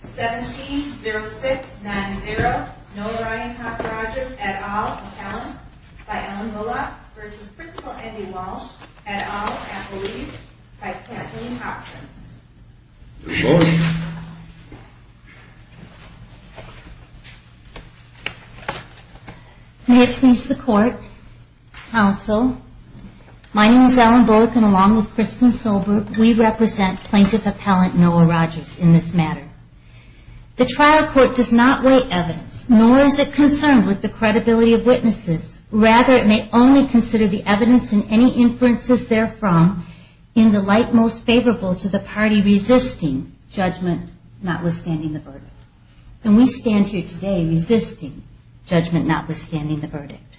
17 06 9 0. No Ryan Rogers at all talents by Ellen Bullock versus Principal Andy Walsh at all. I can't please the court. Counsel. My name is Ellen Bullock and along with Kristen sober. We represent plaintiff appellant Noah Rogers in this matter. The trial court does not weigh evidence, nor is it concerned with the credibility of witnesses. Rather, it may only consider the evidence in any inferences therefrom in the light most favorable to the party resisting judgment, notwithstanding the verdict. And we stand here today resisting judgment, notwithstanding the verdict.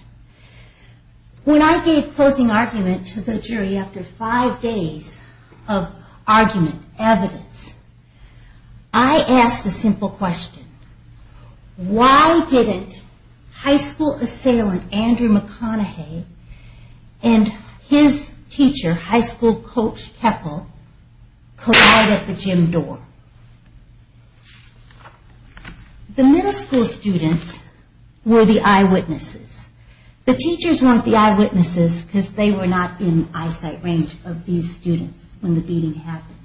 When I gave closing argument to the jury after five days of argument evidence, I asked a simple question. Why didn't high school assailant Andrew McConaughey and his teacher, high school coach Keppel collide at the gym door? The middle school students were the eyewitnesses. The teachers weren't the eyewitnesses because they were not in eyesight range of these students when the beating happened.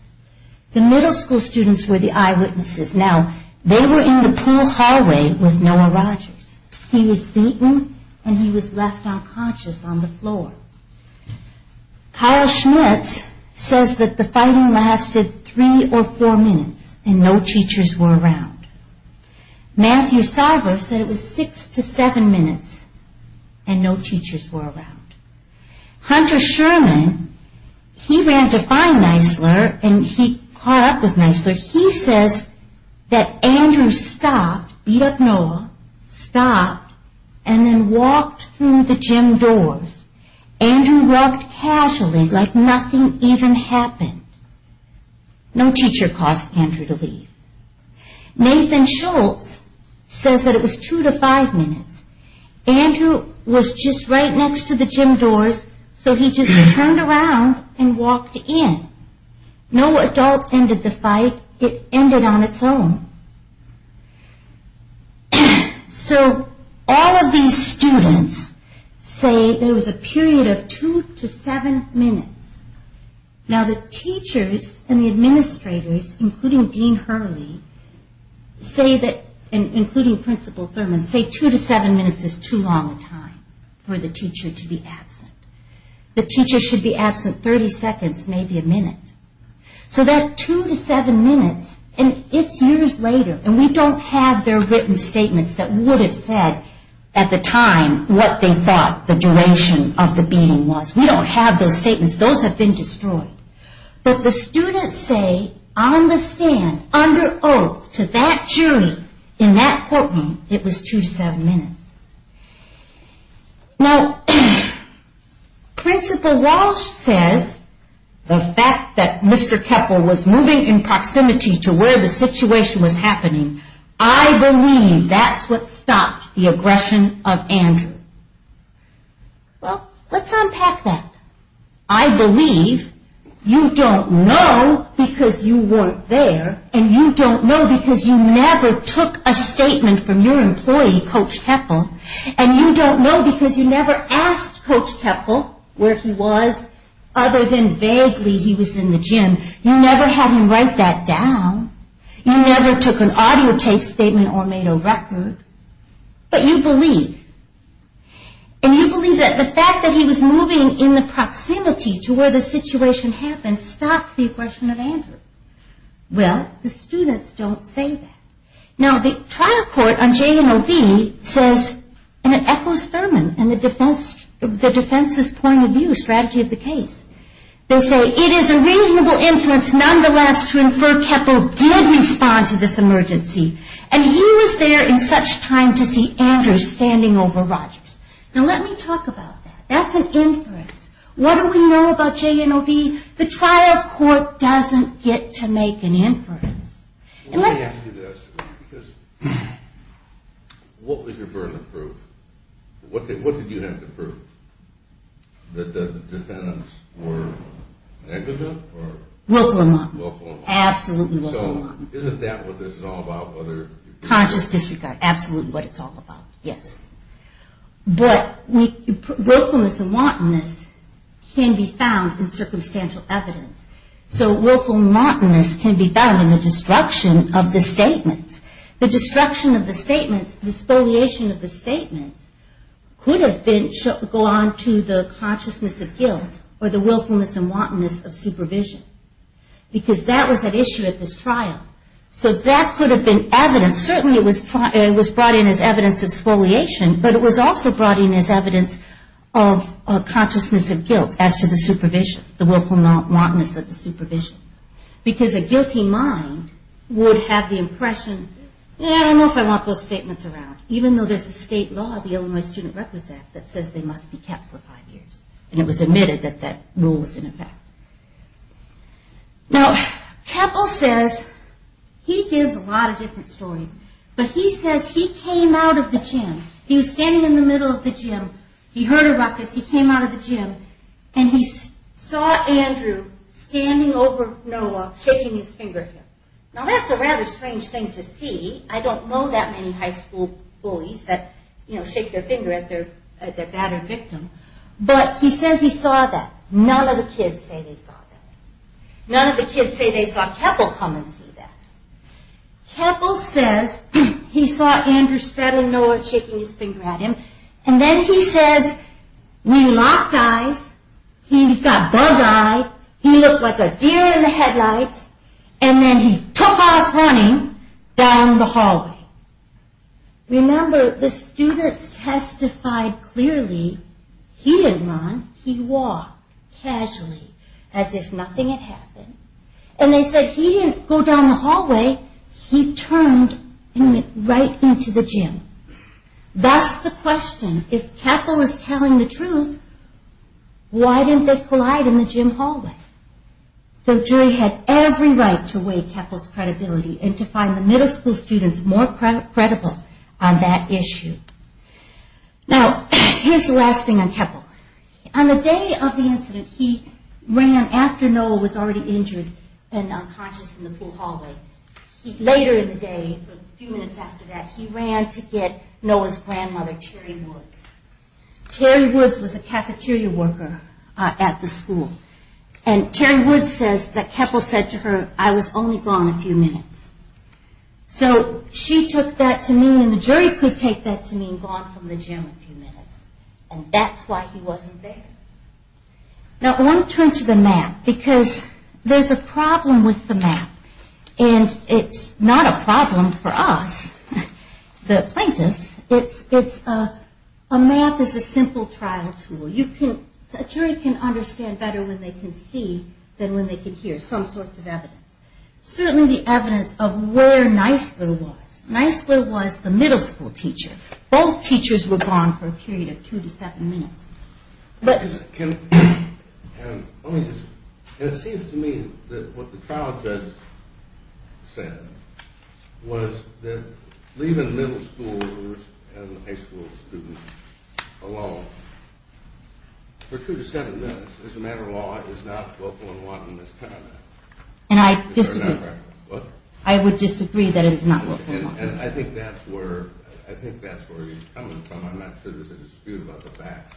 The middle school students were the eyewitnesses. Now, they were in the pool hallway with Noah Rogers. He was beaten and he was left unconscious on the floor. Kyle Schmitz says that the fighting lasted three or four minutes and no teachers were around. Matthew Sarver said it was six to seven minutes and no teachers were around. Hunter Sherman, he ran to find Nisler and he caught up with Nisler. He says that Andrew stopped, beat up Noah, stopped and then walked through the gym doors. Andrew walked casually like nothing even happened. No teacher caused Andrew to leave. Nathan Schultz says that it was two to five minutes. Andrew was just right next to the gym doors so he just turned around and walked in. No adult ended the fight. It ended on its own. So, all of these students say there was a period of two to seven minutes. Now, the teachers and the administrators including Dean Hurley say that, including Principal Thurman, say two to seven minutes is too long a time for the teacher to be absent. The teacher should be absent thirty seconds, maybe a minute. So, that two to seven minutes and it's years later and we don't have their written statements that would have said at the time what they thought the duration of the beating was. We don't have those statements. Those have been destroyed. But the students say on the stand, under oath to that jury, in that courtroom, it was two to seven minutes. Now, Principal Walsh says the fact that Mr. Keppel was moving in proximity to where the situation was happening, I believe that's what stopped the you don't know because you weren't there and you don't know because you never took a statement from your employee, Coach Keppel, and you don't know because you never asked Coach Keppel where he was other than vaguely he was in the gym. You never had him write that down. You never took an audio tape statement or made a record. But you believe. And you believe that the fact that he was moving in the situation happened stopped the aggression of Andrew. Well, the students don't say that. Now, the trial court on J&OB says, and it echoes Thurman and the defense's point of view, strategy of the case. They say it is a reasonable inference nonetheless to infer Keppel did respond to this emergency and he was there in such time to see Andrew standing over Rogers. Now, let me talk about that. That's an inference. What do we know about J&OB? The trial court doesn't get to make an inference. Well, let me ask you this. What was your burden of proof? What did you have to prove? That the defendants were negative or? Willful and wanton. Absolutely willful and wanton. So, isn't that what this is all about? Conscious disregard. Absolutely what it's all about. Yes. But willfulness and wantonness can be found in circumstantial evidence. So willfulness and wantonness can be found in the destruction of the statements. The destruction of the statements, the spoliation of the statements could have gone to the consciousness of guilt or the willfulness and wantonness of supervision. Because that was at issue at this trial. So, that could have been evidence. Certainly it was brought in as evidence of spoliation, but it was also brought in as evidence of consciousness of guilt as to the supervision. The willfulness and wantonness of the supervision. Because a guilty mind would have the impression, I don't know if I want those statements around. Even though there's a state law, the Illinois Student Records Act, that says they must be kept for five years. And it was admitted that that rule was in effect. Now, Keppel says, he gives a lot of different stories. But he says he came out of the gym. He was standing in the middle of the gym. He heard about this. He came out of the gym. And he saw Andrew standing over Noah, shaking his finger at him. Now, that's a rather strange thing to see. I don't know that many high school bullies that, you know, shake their finger at their battered victim. But he says he saw that. None of the kids say they saw that. None of the kids say they saw Keppel come and see that. Keppel says, he saw Andrew standing over Noah, shaking his finger at him. And then he says, we locked eyes. He got bug-eyed. He looked like a deer in the headlights. And then he took off running down the hallway. Remember, the students testified clearly he didn't run. He walked casually, as if nothing had happened. And they said he didn't go down the hallway. He turned and went right into the gym. That's the question. If Keppel is telling the truth, why didn't they collide in the gym hallway? The jury had every right to weigh Keppel's credibility and to find the middle school students more credible on that issue. Now, here's the last thing on Keppel. On the day of the incident, he ran after Noah was already injured and unconscious in the pool hallway. Later in the day, a few minutes after that, he ran to get Noah's grandmother, Terri Woods. Terri Woods was a cafeteria worker at the school. And Terri Woods says that Keppel said to her, I was only gone a few minutes. So she took that to mean, and the jury could take that to mean, gone from the gym a few minutes. And that's why he wasn't there. Now, I want to turn to the map. Because there's a problem with the map. And it's not a problem for us, the plaintiffs. It's a map is a simple trial tool. A jury can understand better when they can see than when they can hear some sorts of evidence. Certainly the evidence of where Nisler was. Nisler was the middle school teacher. Both teachers were gone for a period of two to seven minutes. It seems to me that what the trial judge said was that leaving middle school and high school students alone for two to seven minutes is a matter of law. It's not willful and wanton misconduct. And I would disagree that it is not willful and wanton. I think that's where he's coming from. I'm not sure there's a dispute about the facts.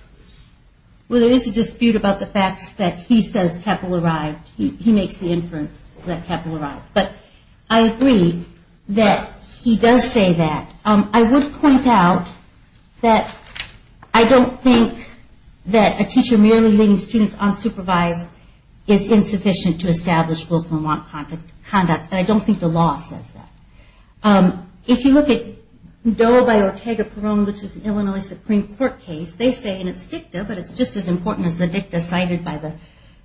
Well, there is a dispute about the facts that he says Keppel arrived. He makes the inference that Keppel arrived. But I agree that he does say that. I would point out that I don't think that a teacher merely leaving students unsupervised is insufficient to establish willful and wanton misconduct. The law says that. If you look at Doe v. Ortega Peron, which is an Illinois Supreme Court case, they say, and it's dicta, but it's just as important as the dicta cited by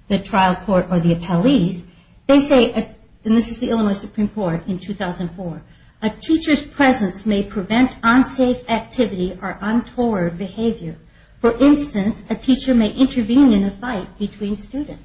the trial court or the appellees, they say, and this is the Illinois Supreme Court in 2004, a teacher's presence may prevent unsafe activity or untoward behavior. For instance, a teacher may intervene in a fight between students.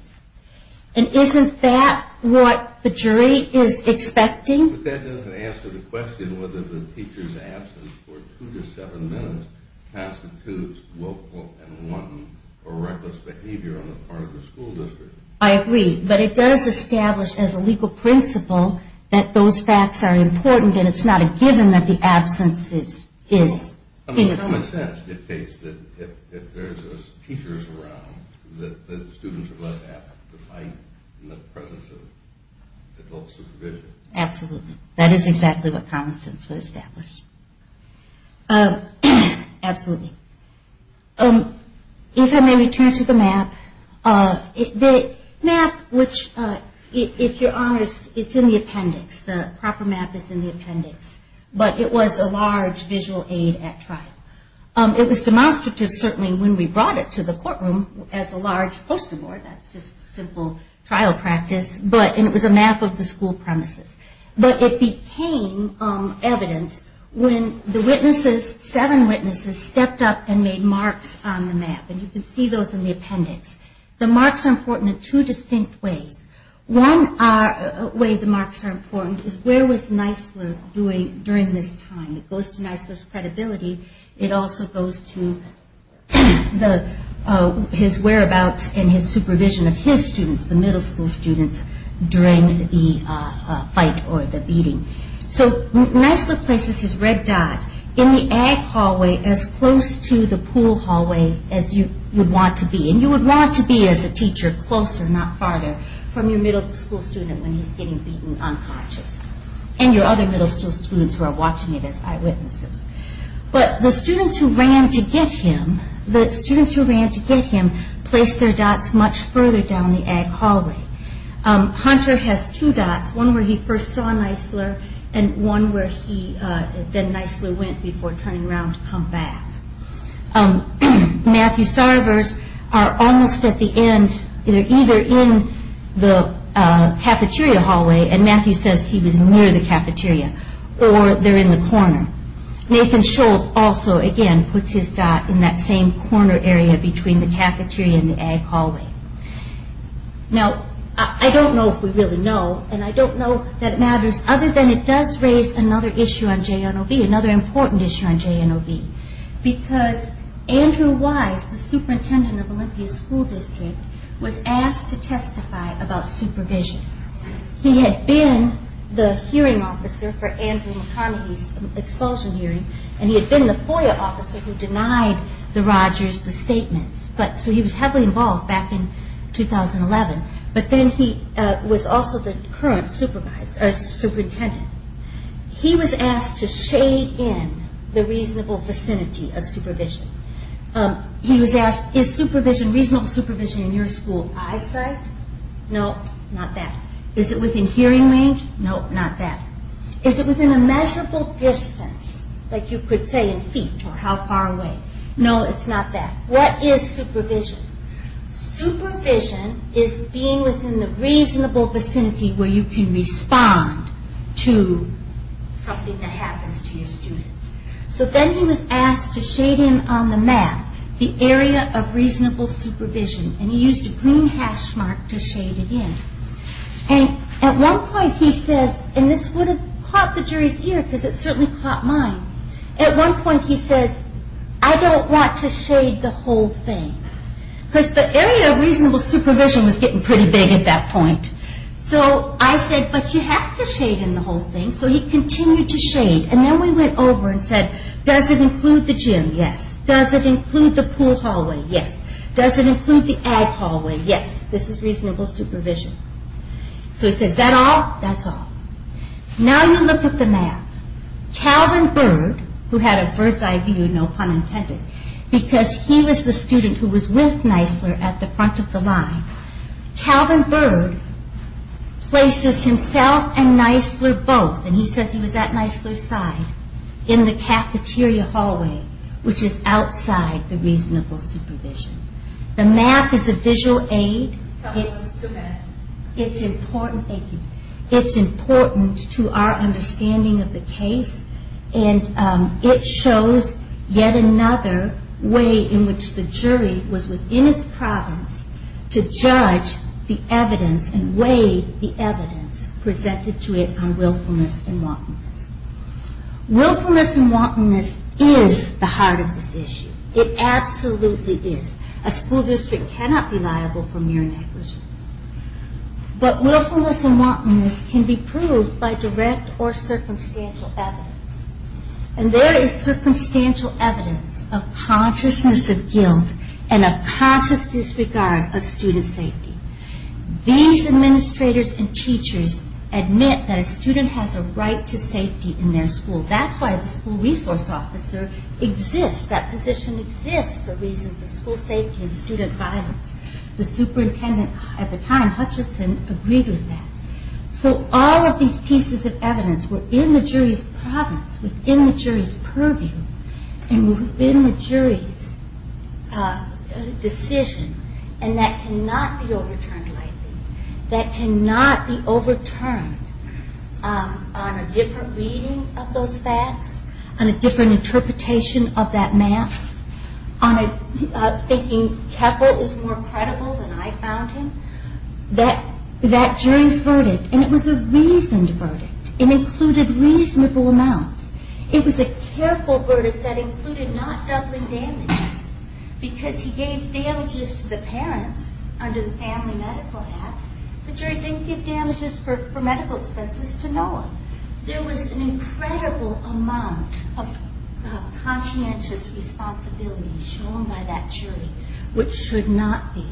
And isn't that what the jury is expecting? But that doesn't answer the question whether the teacher's absence for two to seven minutes constitutes willful and wanton or reckless behavior on the part of the school district. I agree. But it does establish as a legal principle that those facts are important, and it's not a given that the absence is in effect. Common sense dictates that if there's teachers around, that the students are less apt to fight in the presence of adult supervision. Absolutely. That is exactly what common sense would establish. Absolutely. If I may return to the map. The map, which, if you're honest, it's in the appendix. The proper map is in the appendix. But it was a large visual aid at trial. It was demonstrative certainly when we brought it to the courtroom as a large poster board. That's just simple trial practice. But it was a map of the school premises. But it became evidence when the witnesses, seven witnesses, stepped up and made marks on the map. And you can see those in the appendix. The marks are important in two distinct ways. One way the marks are doing during this time. It goes to Nisler's credibility. It also goes to his whereabouts and his supervision of his students, the middle school students, during the fight or the beating. So Nisler places his red dot in the ag hallway as close to the pool hallway as you would want to be. And you would want to be as a teacher closer, not farther, from your middle school student when he's getting beaten unconscious. And your other middle school students who are watching it as eyewitnesses. But the students who ran to get him, the students who ran to get him placed their dots much further down the ag hallway. Hunter has two dots. One where he first saw Nisler and one where he, then Nisler went before turning around to come back. Matthew Sarver's are almost at the end. They're either in the corner, Matthew says he was near the cafeteria, or they're in the corner. Nathan Schultz also again puts his dot in that same corner area between the cafeteria and the ag hallway. Now I don't know if we really know and I don't know that it matters other than it does raise another issue on JNOB, another important issue on JNOB. Because Andrew Wise, the superintendent of Olympia's supervision. He had been the hearing officer for Andrew McConaughey's expulsion hearing and he had been the FOIA officer who denied the Rogers the statements. So he was heavily involved back in 2011. But then he was also the current superintendent. He was asked to shade in the reasonable vicinity of supervision. He was asked, is supervision, reasonable supervision in your school eyesight? No, not that. Is it within hearing range? No, not that. Is it within a measurable distance, like you could say in feet or how far away? No, it's not that. What is supervision? Supervision is being within the reasonable vicinity where you can respond to something that happens to your students. So then he was asked to shade in on the map the area of reasonable supervision. And he used a green hash mark to shade it in. And at one point he says, and this would have caught the jury's ear because it certainly caught mine. At one point he says, I don't want to shade the whole thing. Because the area of reasonable supervision was getting pretty big at that point. So I said, but you have to shade in the whole thing. So he continued to shade. And then we went over and said, does it include the gym? Yes. Does it include the pool hallway? Yes. Does it include the ag hallway? Yes. This is reasonable supervision. So he says, is that all? That's all. Now you look at the map. Calvin Bird, who had a bird's eye view, no pun intended, because he was the student who was with Nisler at the front of the line. Calvin Bird places himself and Nisler both. And he says he was at Nisler's side in the outside the reasonable supervision. The map is a visual aid. It's important to our understanding of the case. And it shows yet another way in which the jury was within its province to judge the evidence and weigh the evidence presented to it on willfulness and wantonness. It absolutely is. A school district cannot be liable for mere negligence. But willfulness and wantonness can be proved by direct or circumstantial evidence. And there is circumstantial evidence of consciousness of guilt and of conscious disregard of student safety. These administrators and teachers admit that a student has a right to safety in their school. That's why the school resource officer exists. That position exists for reasons of school safety and student violence. The superintendent at the time, Hutchinson, agreed with that. So all of these pieces of evidence were in the jury's province, within the jury's purview, and within the jury's decision. And that cannot be overturned, I think. That jury's verdict, and it was a reasoned verdict. It included reasonable amounts. It was a careful verdict that included not doubling damages. Because he gave damages to the parents under the family medical act, the jury didn't give damages for medical expenses to no one. There was an incredible amount of conscientious responsibility shown by that jury, which should not be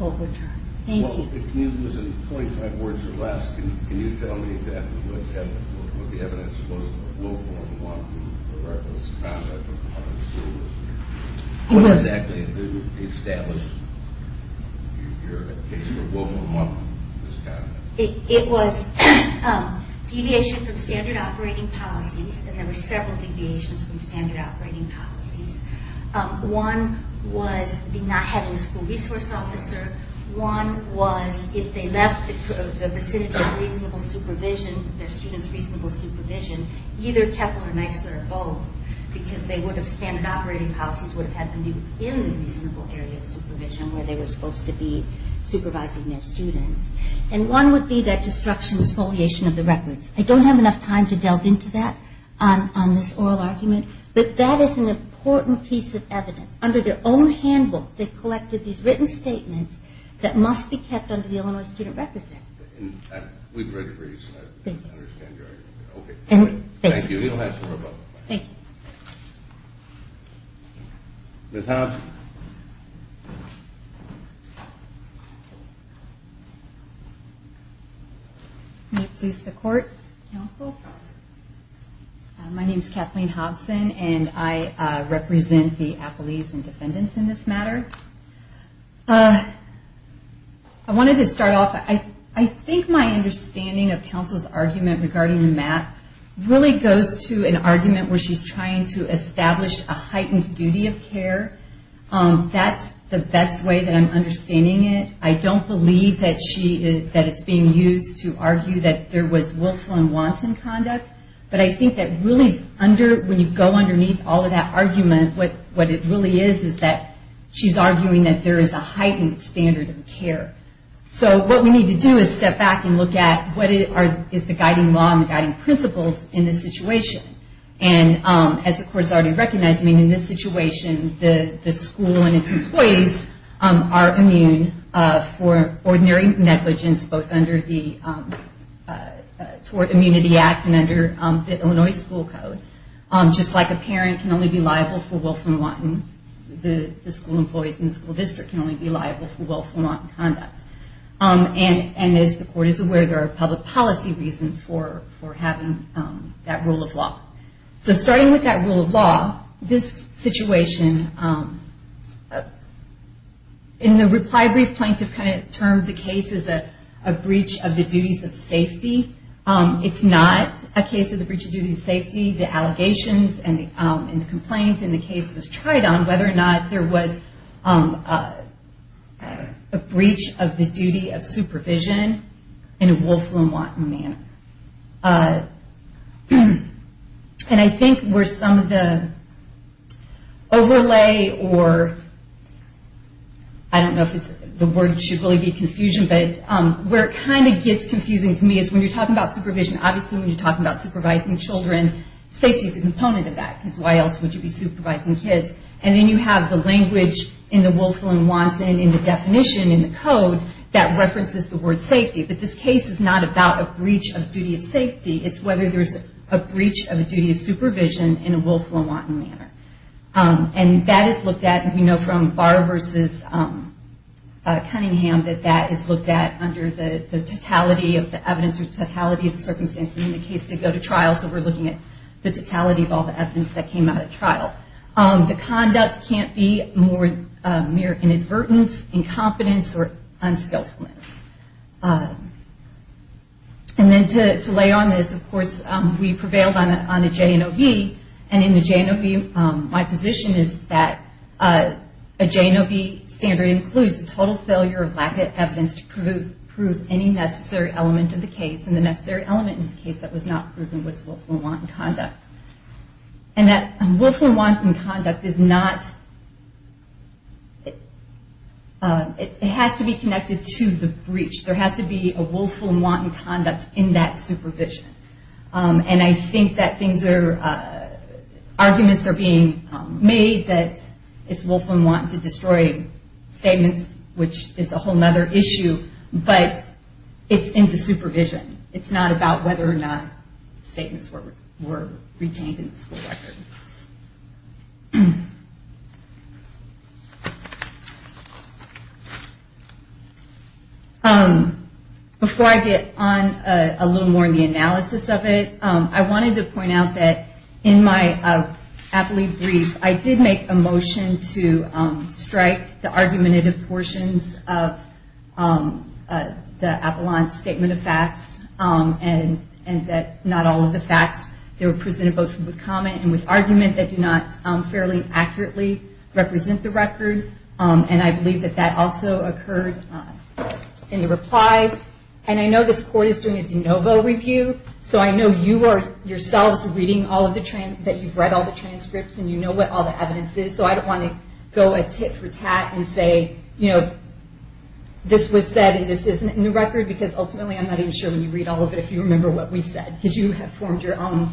overturned. Thank you. If you can use in 25 words or less, can you tell me exactly what the evidence was of willful and wanton, reckless conduct of a public school resident? What exactly established your case for willful and wanton misconduct? It was deviation from standard operating policies, and there were several deviations from standard operating policies. One was the not was if they left the vicinity of reasonable supervision, their students' reasonable supervision, either Kepler, Nisler, or Boehm, because they would have standard operating policies, would have had them do it in the reasonable area of supervision where they were supposed to be supervising their students. And one would be that destruction, exfoliation of the records. I don't have enough time to delve into that on this oral argument, but that is an important piece of evidence. Under their own handbook, they collected these written statements that must be kept under the Illinois student record there. We've read the briefs, and I understand your argument. Thank you. Thank you. Thank you. Ms. Hobson. May it please the court, counsel? My name is Kathleen Hobson, and I wanted to start off, I think my understanding of counsel's argument regarding the map really goes to an argument where she's trying to establish a heightened duty of care. That's the best way that I'm understanding it. I don't believe that it's being used to argue that there was willful and wanton conduct, but I think that really, when you go underneath all of that argument, what it really is, is that she's arguing that there is a heightened standard of care. So what we need to do is step back and look at what is the guiding law and guiding principles in this situation. As the court has already recognized, in this situation, the school and its employees are immune for ordinary negligence, both under the Tort Immunity Act and under the Illinois school code. Just like a parent can only be liable for willful and wanton, the school employees in the school district can only be liable for willful and wanton conduct. And as the court is aware, there are public policy reasons for having that rule of law. So starting with that rule of law, this situation, in the reply brief, plaintiff kind of termed the case as a breach of the duties of safety. It's not a case of the breach of duties of safety. The allegations and the complaint in the case was tried on whether or not there was a breach of the duty of supervision in a willful and wanton manner. And I think where some of the overlay or, I don't know if the word should really be confusion, but where it kind of gets confusing to me is when you're talking about supervision, obviously when you're talking about supervising children, safety is a component of that, because why else would you be supervising kids? And then you have the language in the willful and wanton, in the definition, in the code, that references the word safety. But this case is not about a breach of duty of safety. It's whether there's a breach of a duty of supervision in a willful and wanton manner. And that is looked at, you know, from Barr versus Cunningham, that that is looked at under the totality of the evidence or totality of the circumstances in the case to go to trial. So we're looking at the totality of all the evidence that came out of trial. The conduct can't be more mere inadvertence, incompetence, or unskillfulness. And then to lay on this, of course, we prevailed on a J&OB, and in the J&OB, my position is that a J&OB standard includes a total failure of lack of evidence to prove any necessary element of the case, and the necessary element in this case that was not proven was willful and wanton conduct. And that willful and wanton conduct is not, it has to be connected to the breach. There has to be a willful and wanton conduct in that supervision. And I think that things are, arguments are being made that it's willful and wanton to destroy statements, which is a whole other issue, but it's in the supervision. It's not about whether or not statements were retained in the school record. Before I get on a little more in the analysis of it, I wanted to point out that in my aptly brief, I did make a motion to strike the argumentative portions of the Avalon Statement of Facts, and that all of the facts that were presented both with comment and with argument that do not fairly accurately represent the record, and I believe that that also occurred in the reply. And I know this court is doing a de novo review, so I know you are yourselves reading all of the, that you've read all the transcripts and you know what all the evidence is, so I don't want to go tit for tat and say, you know, this was said and this isn't in the record, because ultimately I'm not even sure when you read all of it if you remember what we said, because you have formed your own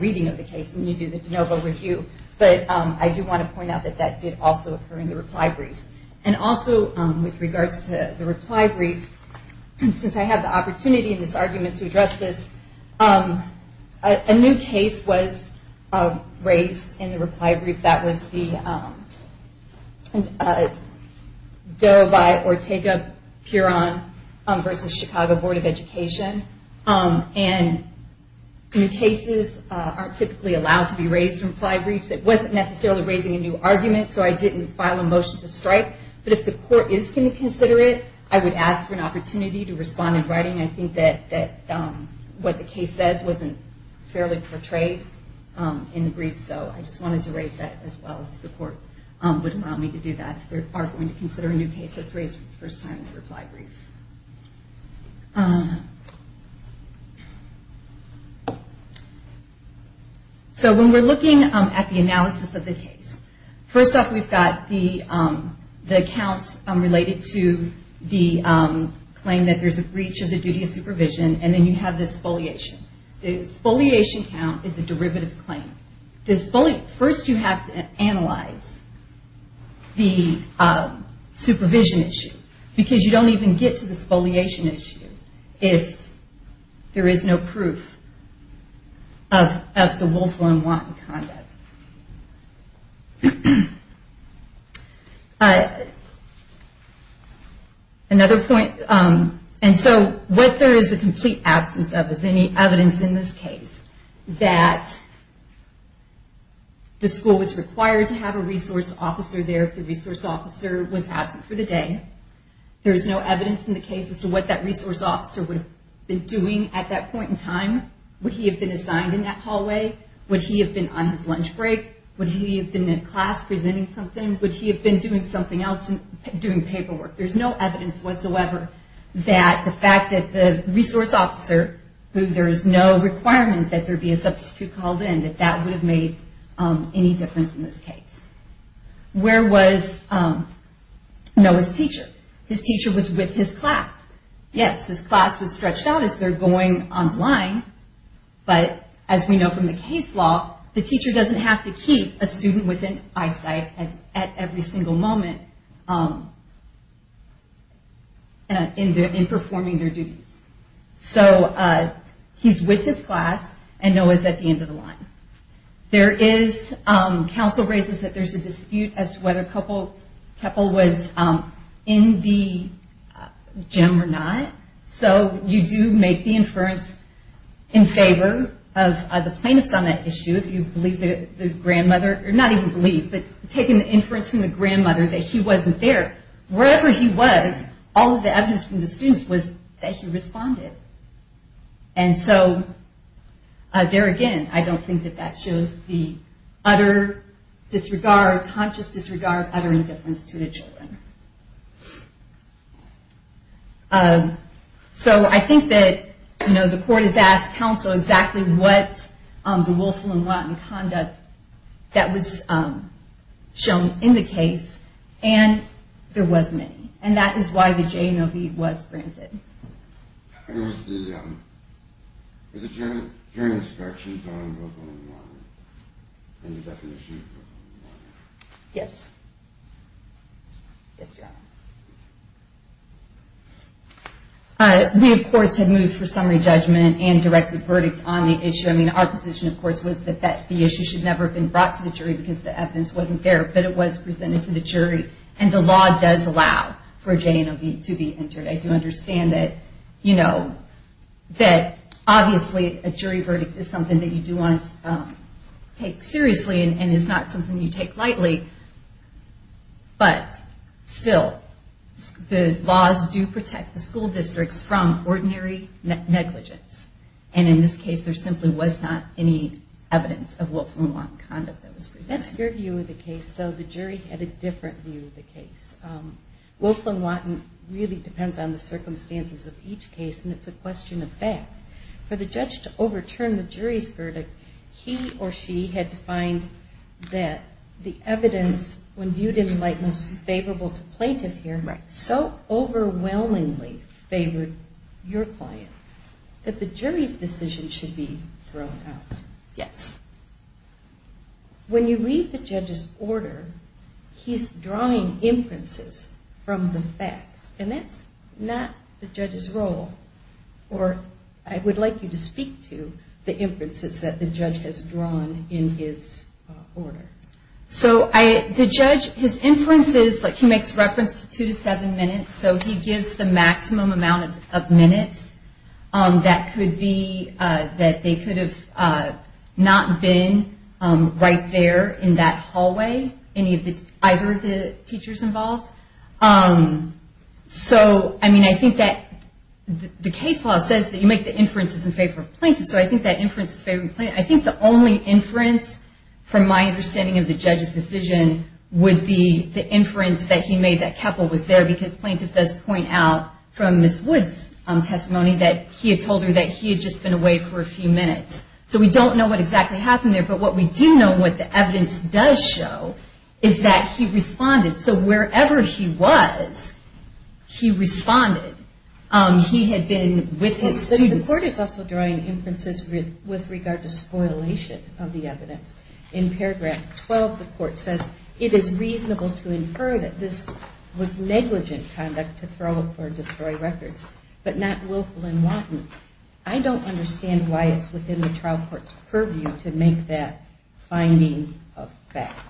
reading of the case when you do the de novo review, but I do want to point out that that did also occur in the reply brief. And also with regards to the reply brief, since I have the opportunity in this argument to address this, a new case was raised in the reply brief that was the Darabai Ortega-Puron v. Chicago Board of Education, and new cases aren't typically allowed to be raised in reply briefs. It wasn't necessarily raising a new argument, so I didn't file a motion to strike, but if the court is going to consider it, I would ask for an opportunity to respond in writing. I think that what the case says wasn't fairly portrayed in the brief, so I just wanted to raise that as well, if the court would allow me to do that, if they are going to consider a new case that's raised for the first time in the reply brief. So when we're looking at the analysis of the case, first off we've got the counts related to the claim that there's a breach of the duty of supervision, and then you have the spoliation. The spoliation count is a derivative claim. First you have to analyze the supervision issue, because you don't even get to the spoliation issue if there is no proof of the willful and wanton conduct. And so what there is a complete absence of is any evidence in this case that the school was required to have a resource officer there if the resource officer was absent for the day. There is no evidence in the case as to what that resource officer would have been doing at that point in time. Would he have been assigned in that hallway? Would he have been on his lunch break? Would he have been in class presenting something? Would he have been doing something else, doing paperwork? There's no evidence whatsoever that the fact that the resource officer, who there is no requirement that there be a substitute called in, that that would have made any difference in this case. Where was Noah's teacher? His teacher was with his class. Yes, his class was stretched out as they're going online, but as we know from the case law, the teacher doesn't have to keep a student within eyesight at every single moment in performing their duties. So he's with his class, and Noah's at the end of the line. There is, counsel raises that there's a dispute as to whether Keppel was in the gym or not. So you do make the inference in favor of the plaintiffs on that issue, if you believe. But taking the inference from the grandmother that he wasn't there, wherever he was, all of the evidence from the students was that he responded. And so there again, I don't think that that shows the utter disregard, conscious disregard, utter indifference to the children. So I think that the conduct that was shown in the case, and there was many, and that is why the J&OV was granted. Yes. I mean, of course, had moved for summary judgment and directed verdict on the issue. I mean, our position, of course, was that the issue should never have been brought to the jury because the evidence wasn't there, but it was presented to the jury. And the law does allow for a J&OV to be entered. I do understand that, you know, that obviously a jury verdict is something that you do want to take seriously and is not something you take lightly. But still, the laws do protect the school districts from ordinary negligence. And in this case, there simply was not any evidence of Wilklin-Watton conduct that was presented. That's your view of the case, though the jury had a different view of the case. Wilklin-Watton really depends on the circumstances of each case, and it's a question of fact. For the judge to overturn the jury's verdict, he or she had to find that the evidence, when viewed in light most favorable to plaintiff here, so overwhelmingly favored your client, that the jury's decision should be thrown out. Yes. When you read the judge's order, he's drawing inferences from the facts. And that's not the judge's role, or I would like you to speak to the inferences that the judge has drawn in his order. So the judge, his inferences, like he makes reference to two to seven minutes. So he gives the maximum amount of minutes that could be, that they could have not been right there in that hallway, either of the teachers involved. So I mean, I think that the case law says that you make the inferences in favor of plaintiff. So I think that inference is favoring plaintiff. I think the only inference, from my understanding of the judge's decision, would be the inference that he made that Keppel was there, because plaintiff does point out from Ms. Woods' testimony that he had told her that he had just been away for a few minutes. So we don't know what exactly happened there. But what we do know, what the evidence does show, is that he responded. So wherever he was, he responded. He had been with his students. The court is also drawing inferences with regard to spoilation of the evidence. In paragraph 12, the court says, it is reasonable to infer that this was negligent conduct to destroy records, but not willful and wanton. I don't understand why it's within the trial court's purview to make that finding a fact.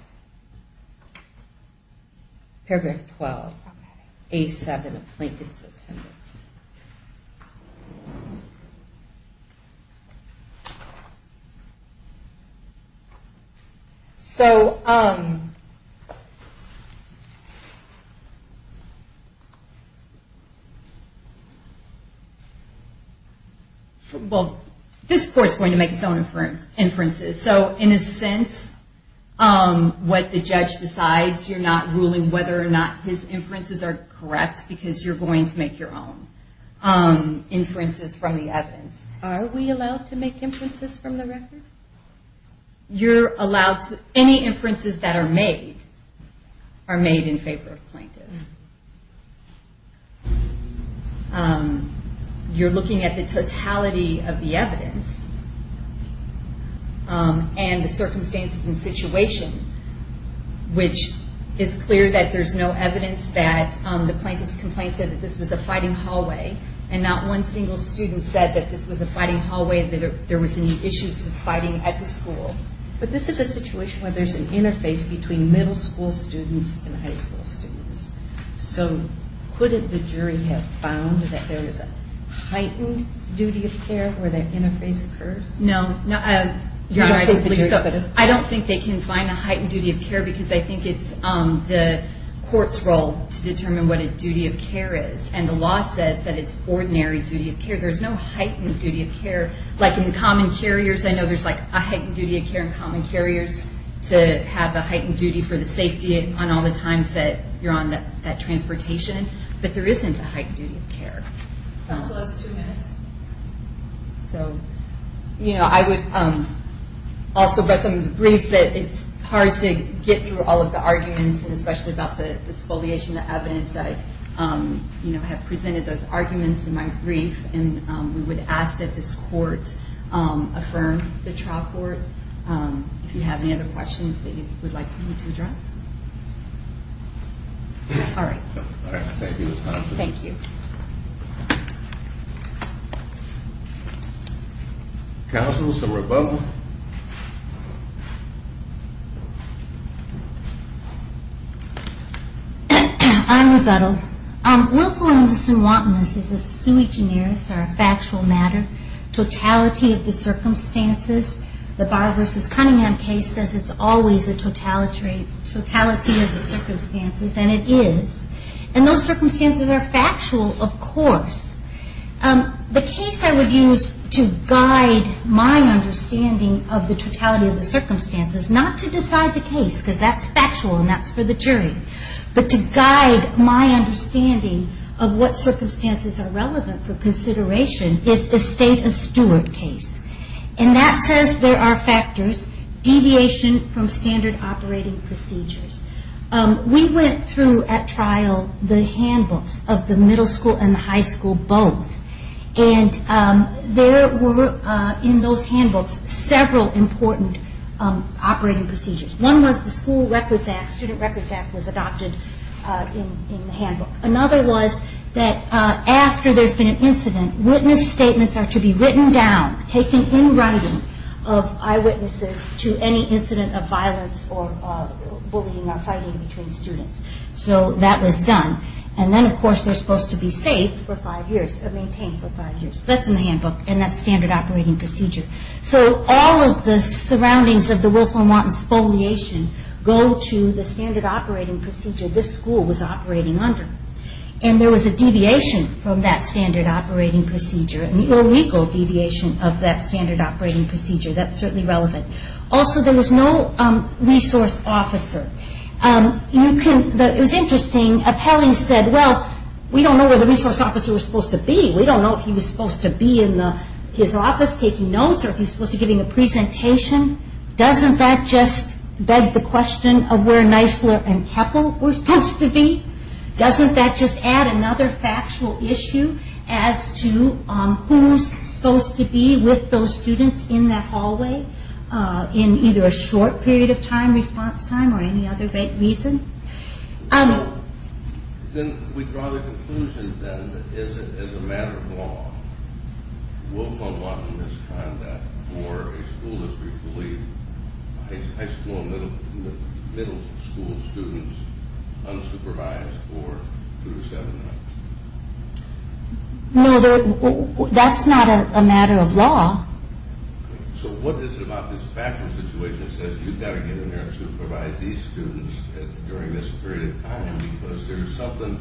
Paragraph 12, A7 of Plaintiff's Well, this court's going to make its own inferences. So in a sense, what the judge decides, you're not ruling whether or not his inferences are correct, because you're going to make your own inferences from the evidence. Are we allowed to make inferences from the record? You're allowed to, any inferences that are made, are made in favor of plaintiff. You're looking at the totality of the evidence, and the circumstances and situation, which is clear that there's no evidence that the plaintiff's complaint said that this was a fighting hallway, and not one single student said that this was a fighting hallway, that there was any issues with fighting at the school. But this is a situation where there's an interface between middle school students and high school students. So could the jury have found that there is a heightened duty of care where that interface occurs? No. I don't think they can find a heightened duty of care, because I think it's the court's role to determine what a duty of care, there's no heightened duty of care. Like in common carriers, I know there's a heightened duty of care in common carriers, to have a heightened duty for the safety on all the times that you're on that transportation, but there isn't a heightened duty of care. Counsel, that's two minutes. So, you know, I would also, by some briefs, that it's hard to get through all of the arguments, and especially about the disfoliation of evidence, I have presented those arguments in my brief, and we would ask that this court affirm the trial court. If you have any other questions that you would like for me to address. All right. Thank you. Counsel, some rebuttal. I'm rebuttal. Willfulness and wantonness is a sui generis, or a factual matter. Totality of the circumstances, the Barr v. Cunningham case says it's always a totality of the circumstances, and it is. And those circumstances are factual, of course. The case I would use to guide my understanding of the totality of the circumstances, not to decide the case, because that's factual, and that's for the jury, but to guide my understanding of what circumstances are relevant for consideration, is the state of Stewart case. And that says there are factors, deviation from standard operating procedures. We went through, at trial, the handbooks of the middle school and the high school, both. And there were, in those handbooks, several important operating procedures. One was the School Records Act, Student Records Act was adopted in the handbook. Another was that after there's been an incident, witness statements are to be written down, taken in writing, of eyewitnesses to any incident of violence or bullying or fighting between students. So that was done. And then, of course, they're supposed to be saved for five years, or maintained for five years. That's in the handbook, and that's standard operating procedure. So all of the surroundings of the Wilfrem Watton spoliation go to the standard operating procedure this school was operating under. And there was a deviation from that standard operating procedure, an illegal deviation of that standard operating procedure. That's certainly relevant. Also, there was no resource officer. It was we don't know where the resource officer was supposed to be. We don't know if he was supposed to be in his office taking notes, or if he was supposed to be giving a presentation. Doesn't that just beg the question of where Nisler and Keppel were supposed to be? Doesn't that just add another factual issue as to who's supposed to be with those students in that hallway, in either a short period of time, response time, or any other great reason? Then we draw the conclusion, then, that as a matter of law, Wilfrem Watton has conducted for a school, as we believe, high school and middle school students, unsupervised for two to seven nights. No, that's not a matter of law. So what is it about this background situation that says you've got to get in there and supervise these students during this period of time, because there's something...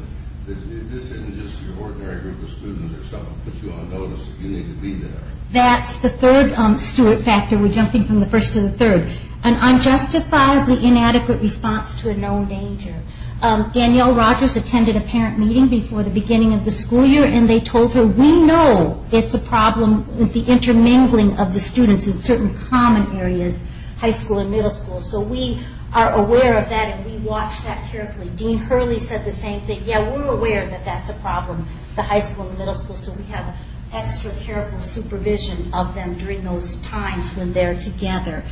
This isn't just your ordinary group of students. There's something that puts you on notice. You need to be there. That's the third Stewart factor. We're jumping from the first to the third. An unjustifiably inadequate response to a known danger. Danielle Rogers attended a parent meeting before the beginning of the school year, and they told her, we know it's a problem with the intermingling of the students in certain common areas, high school and middle school. So we are aware of that, and we watch that carefully. Dean Hurley said the same thing. Yeah, we're aware that that's a problem, the high school and middle school, so we have extra careful supervision of them during those times when they're together.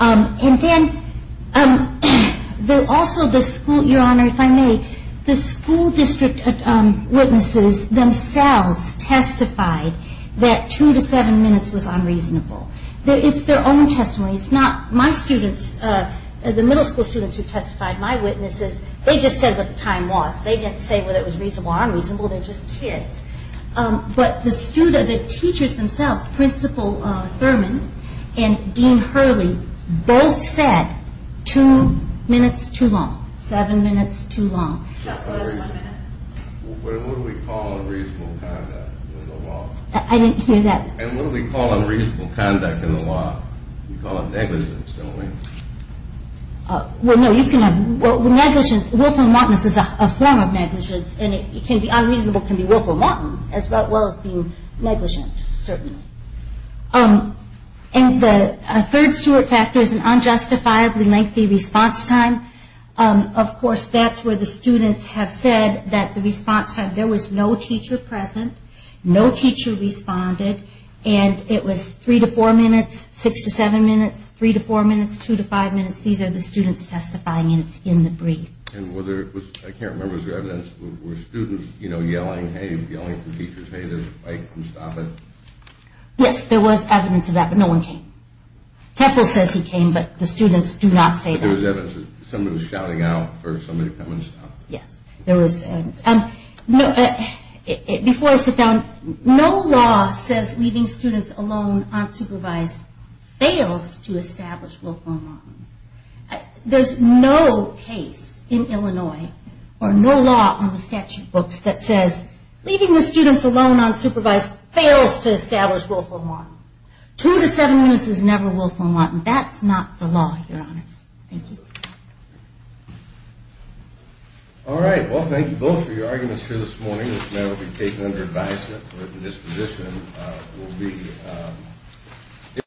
And then, also the school... Your Honor, if I may, the school district witnesses themselves testified that two to seven minutes was unreasonable. It's their own testimony. It's not my students. The middle school students who testified, my witnesses, they just said what the time was. They didn't say whether it was reasonable or unreasonable. They're just kids. But the teachers themselves, Principal Thurman and Dean Hurley, both said two minutes too long, seven minutes too long. That's less than a minute. What do we call unreasonable conduct in the law? I didn't hear that. And what do we call unreasonable conduct in the law? We call it negligence, don't we? Well, no, you can have... Well, negligence, willful wantonness is a form of negligence, and it can be unreasonable, it can be willful wanton, as well as being negligent, certainly. And the third steward factor is an unjustifiably lengthy response time. Of course, that's where the students have said that the response time... There was no teacher present, no teacher responded, and it was three to four minutes, six to seven minutes, three to four minutes, two to five minutes. These are the students testifying, and it's in the brief. And whether it was... I can't remember if there was evidence. Were students yelling, hey, yelling from teachers, hey, come stop it? Yes, there was evidence of that, but no one came. Keppel says he came, but the students do not say that. But there was evidence that someone was shouting out for somebody to come Yes, there was evidence. Before I sit down, no law says leaving students alone unsupervised fails to establish willful wanton. There's no case in Illinois, or no law on the statute books that says leaving the students alone unsupervised fails to establish willful wanton. Two to seven minutes is never willful wanton. That's not the law, Your Honors. Thank you. All right. Well, thank you both for your arguments here this morning. This matter will be taken under advisement, but the disposition will be...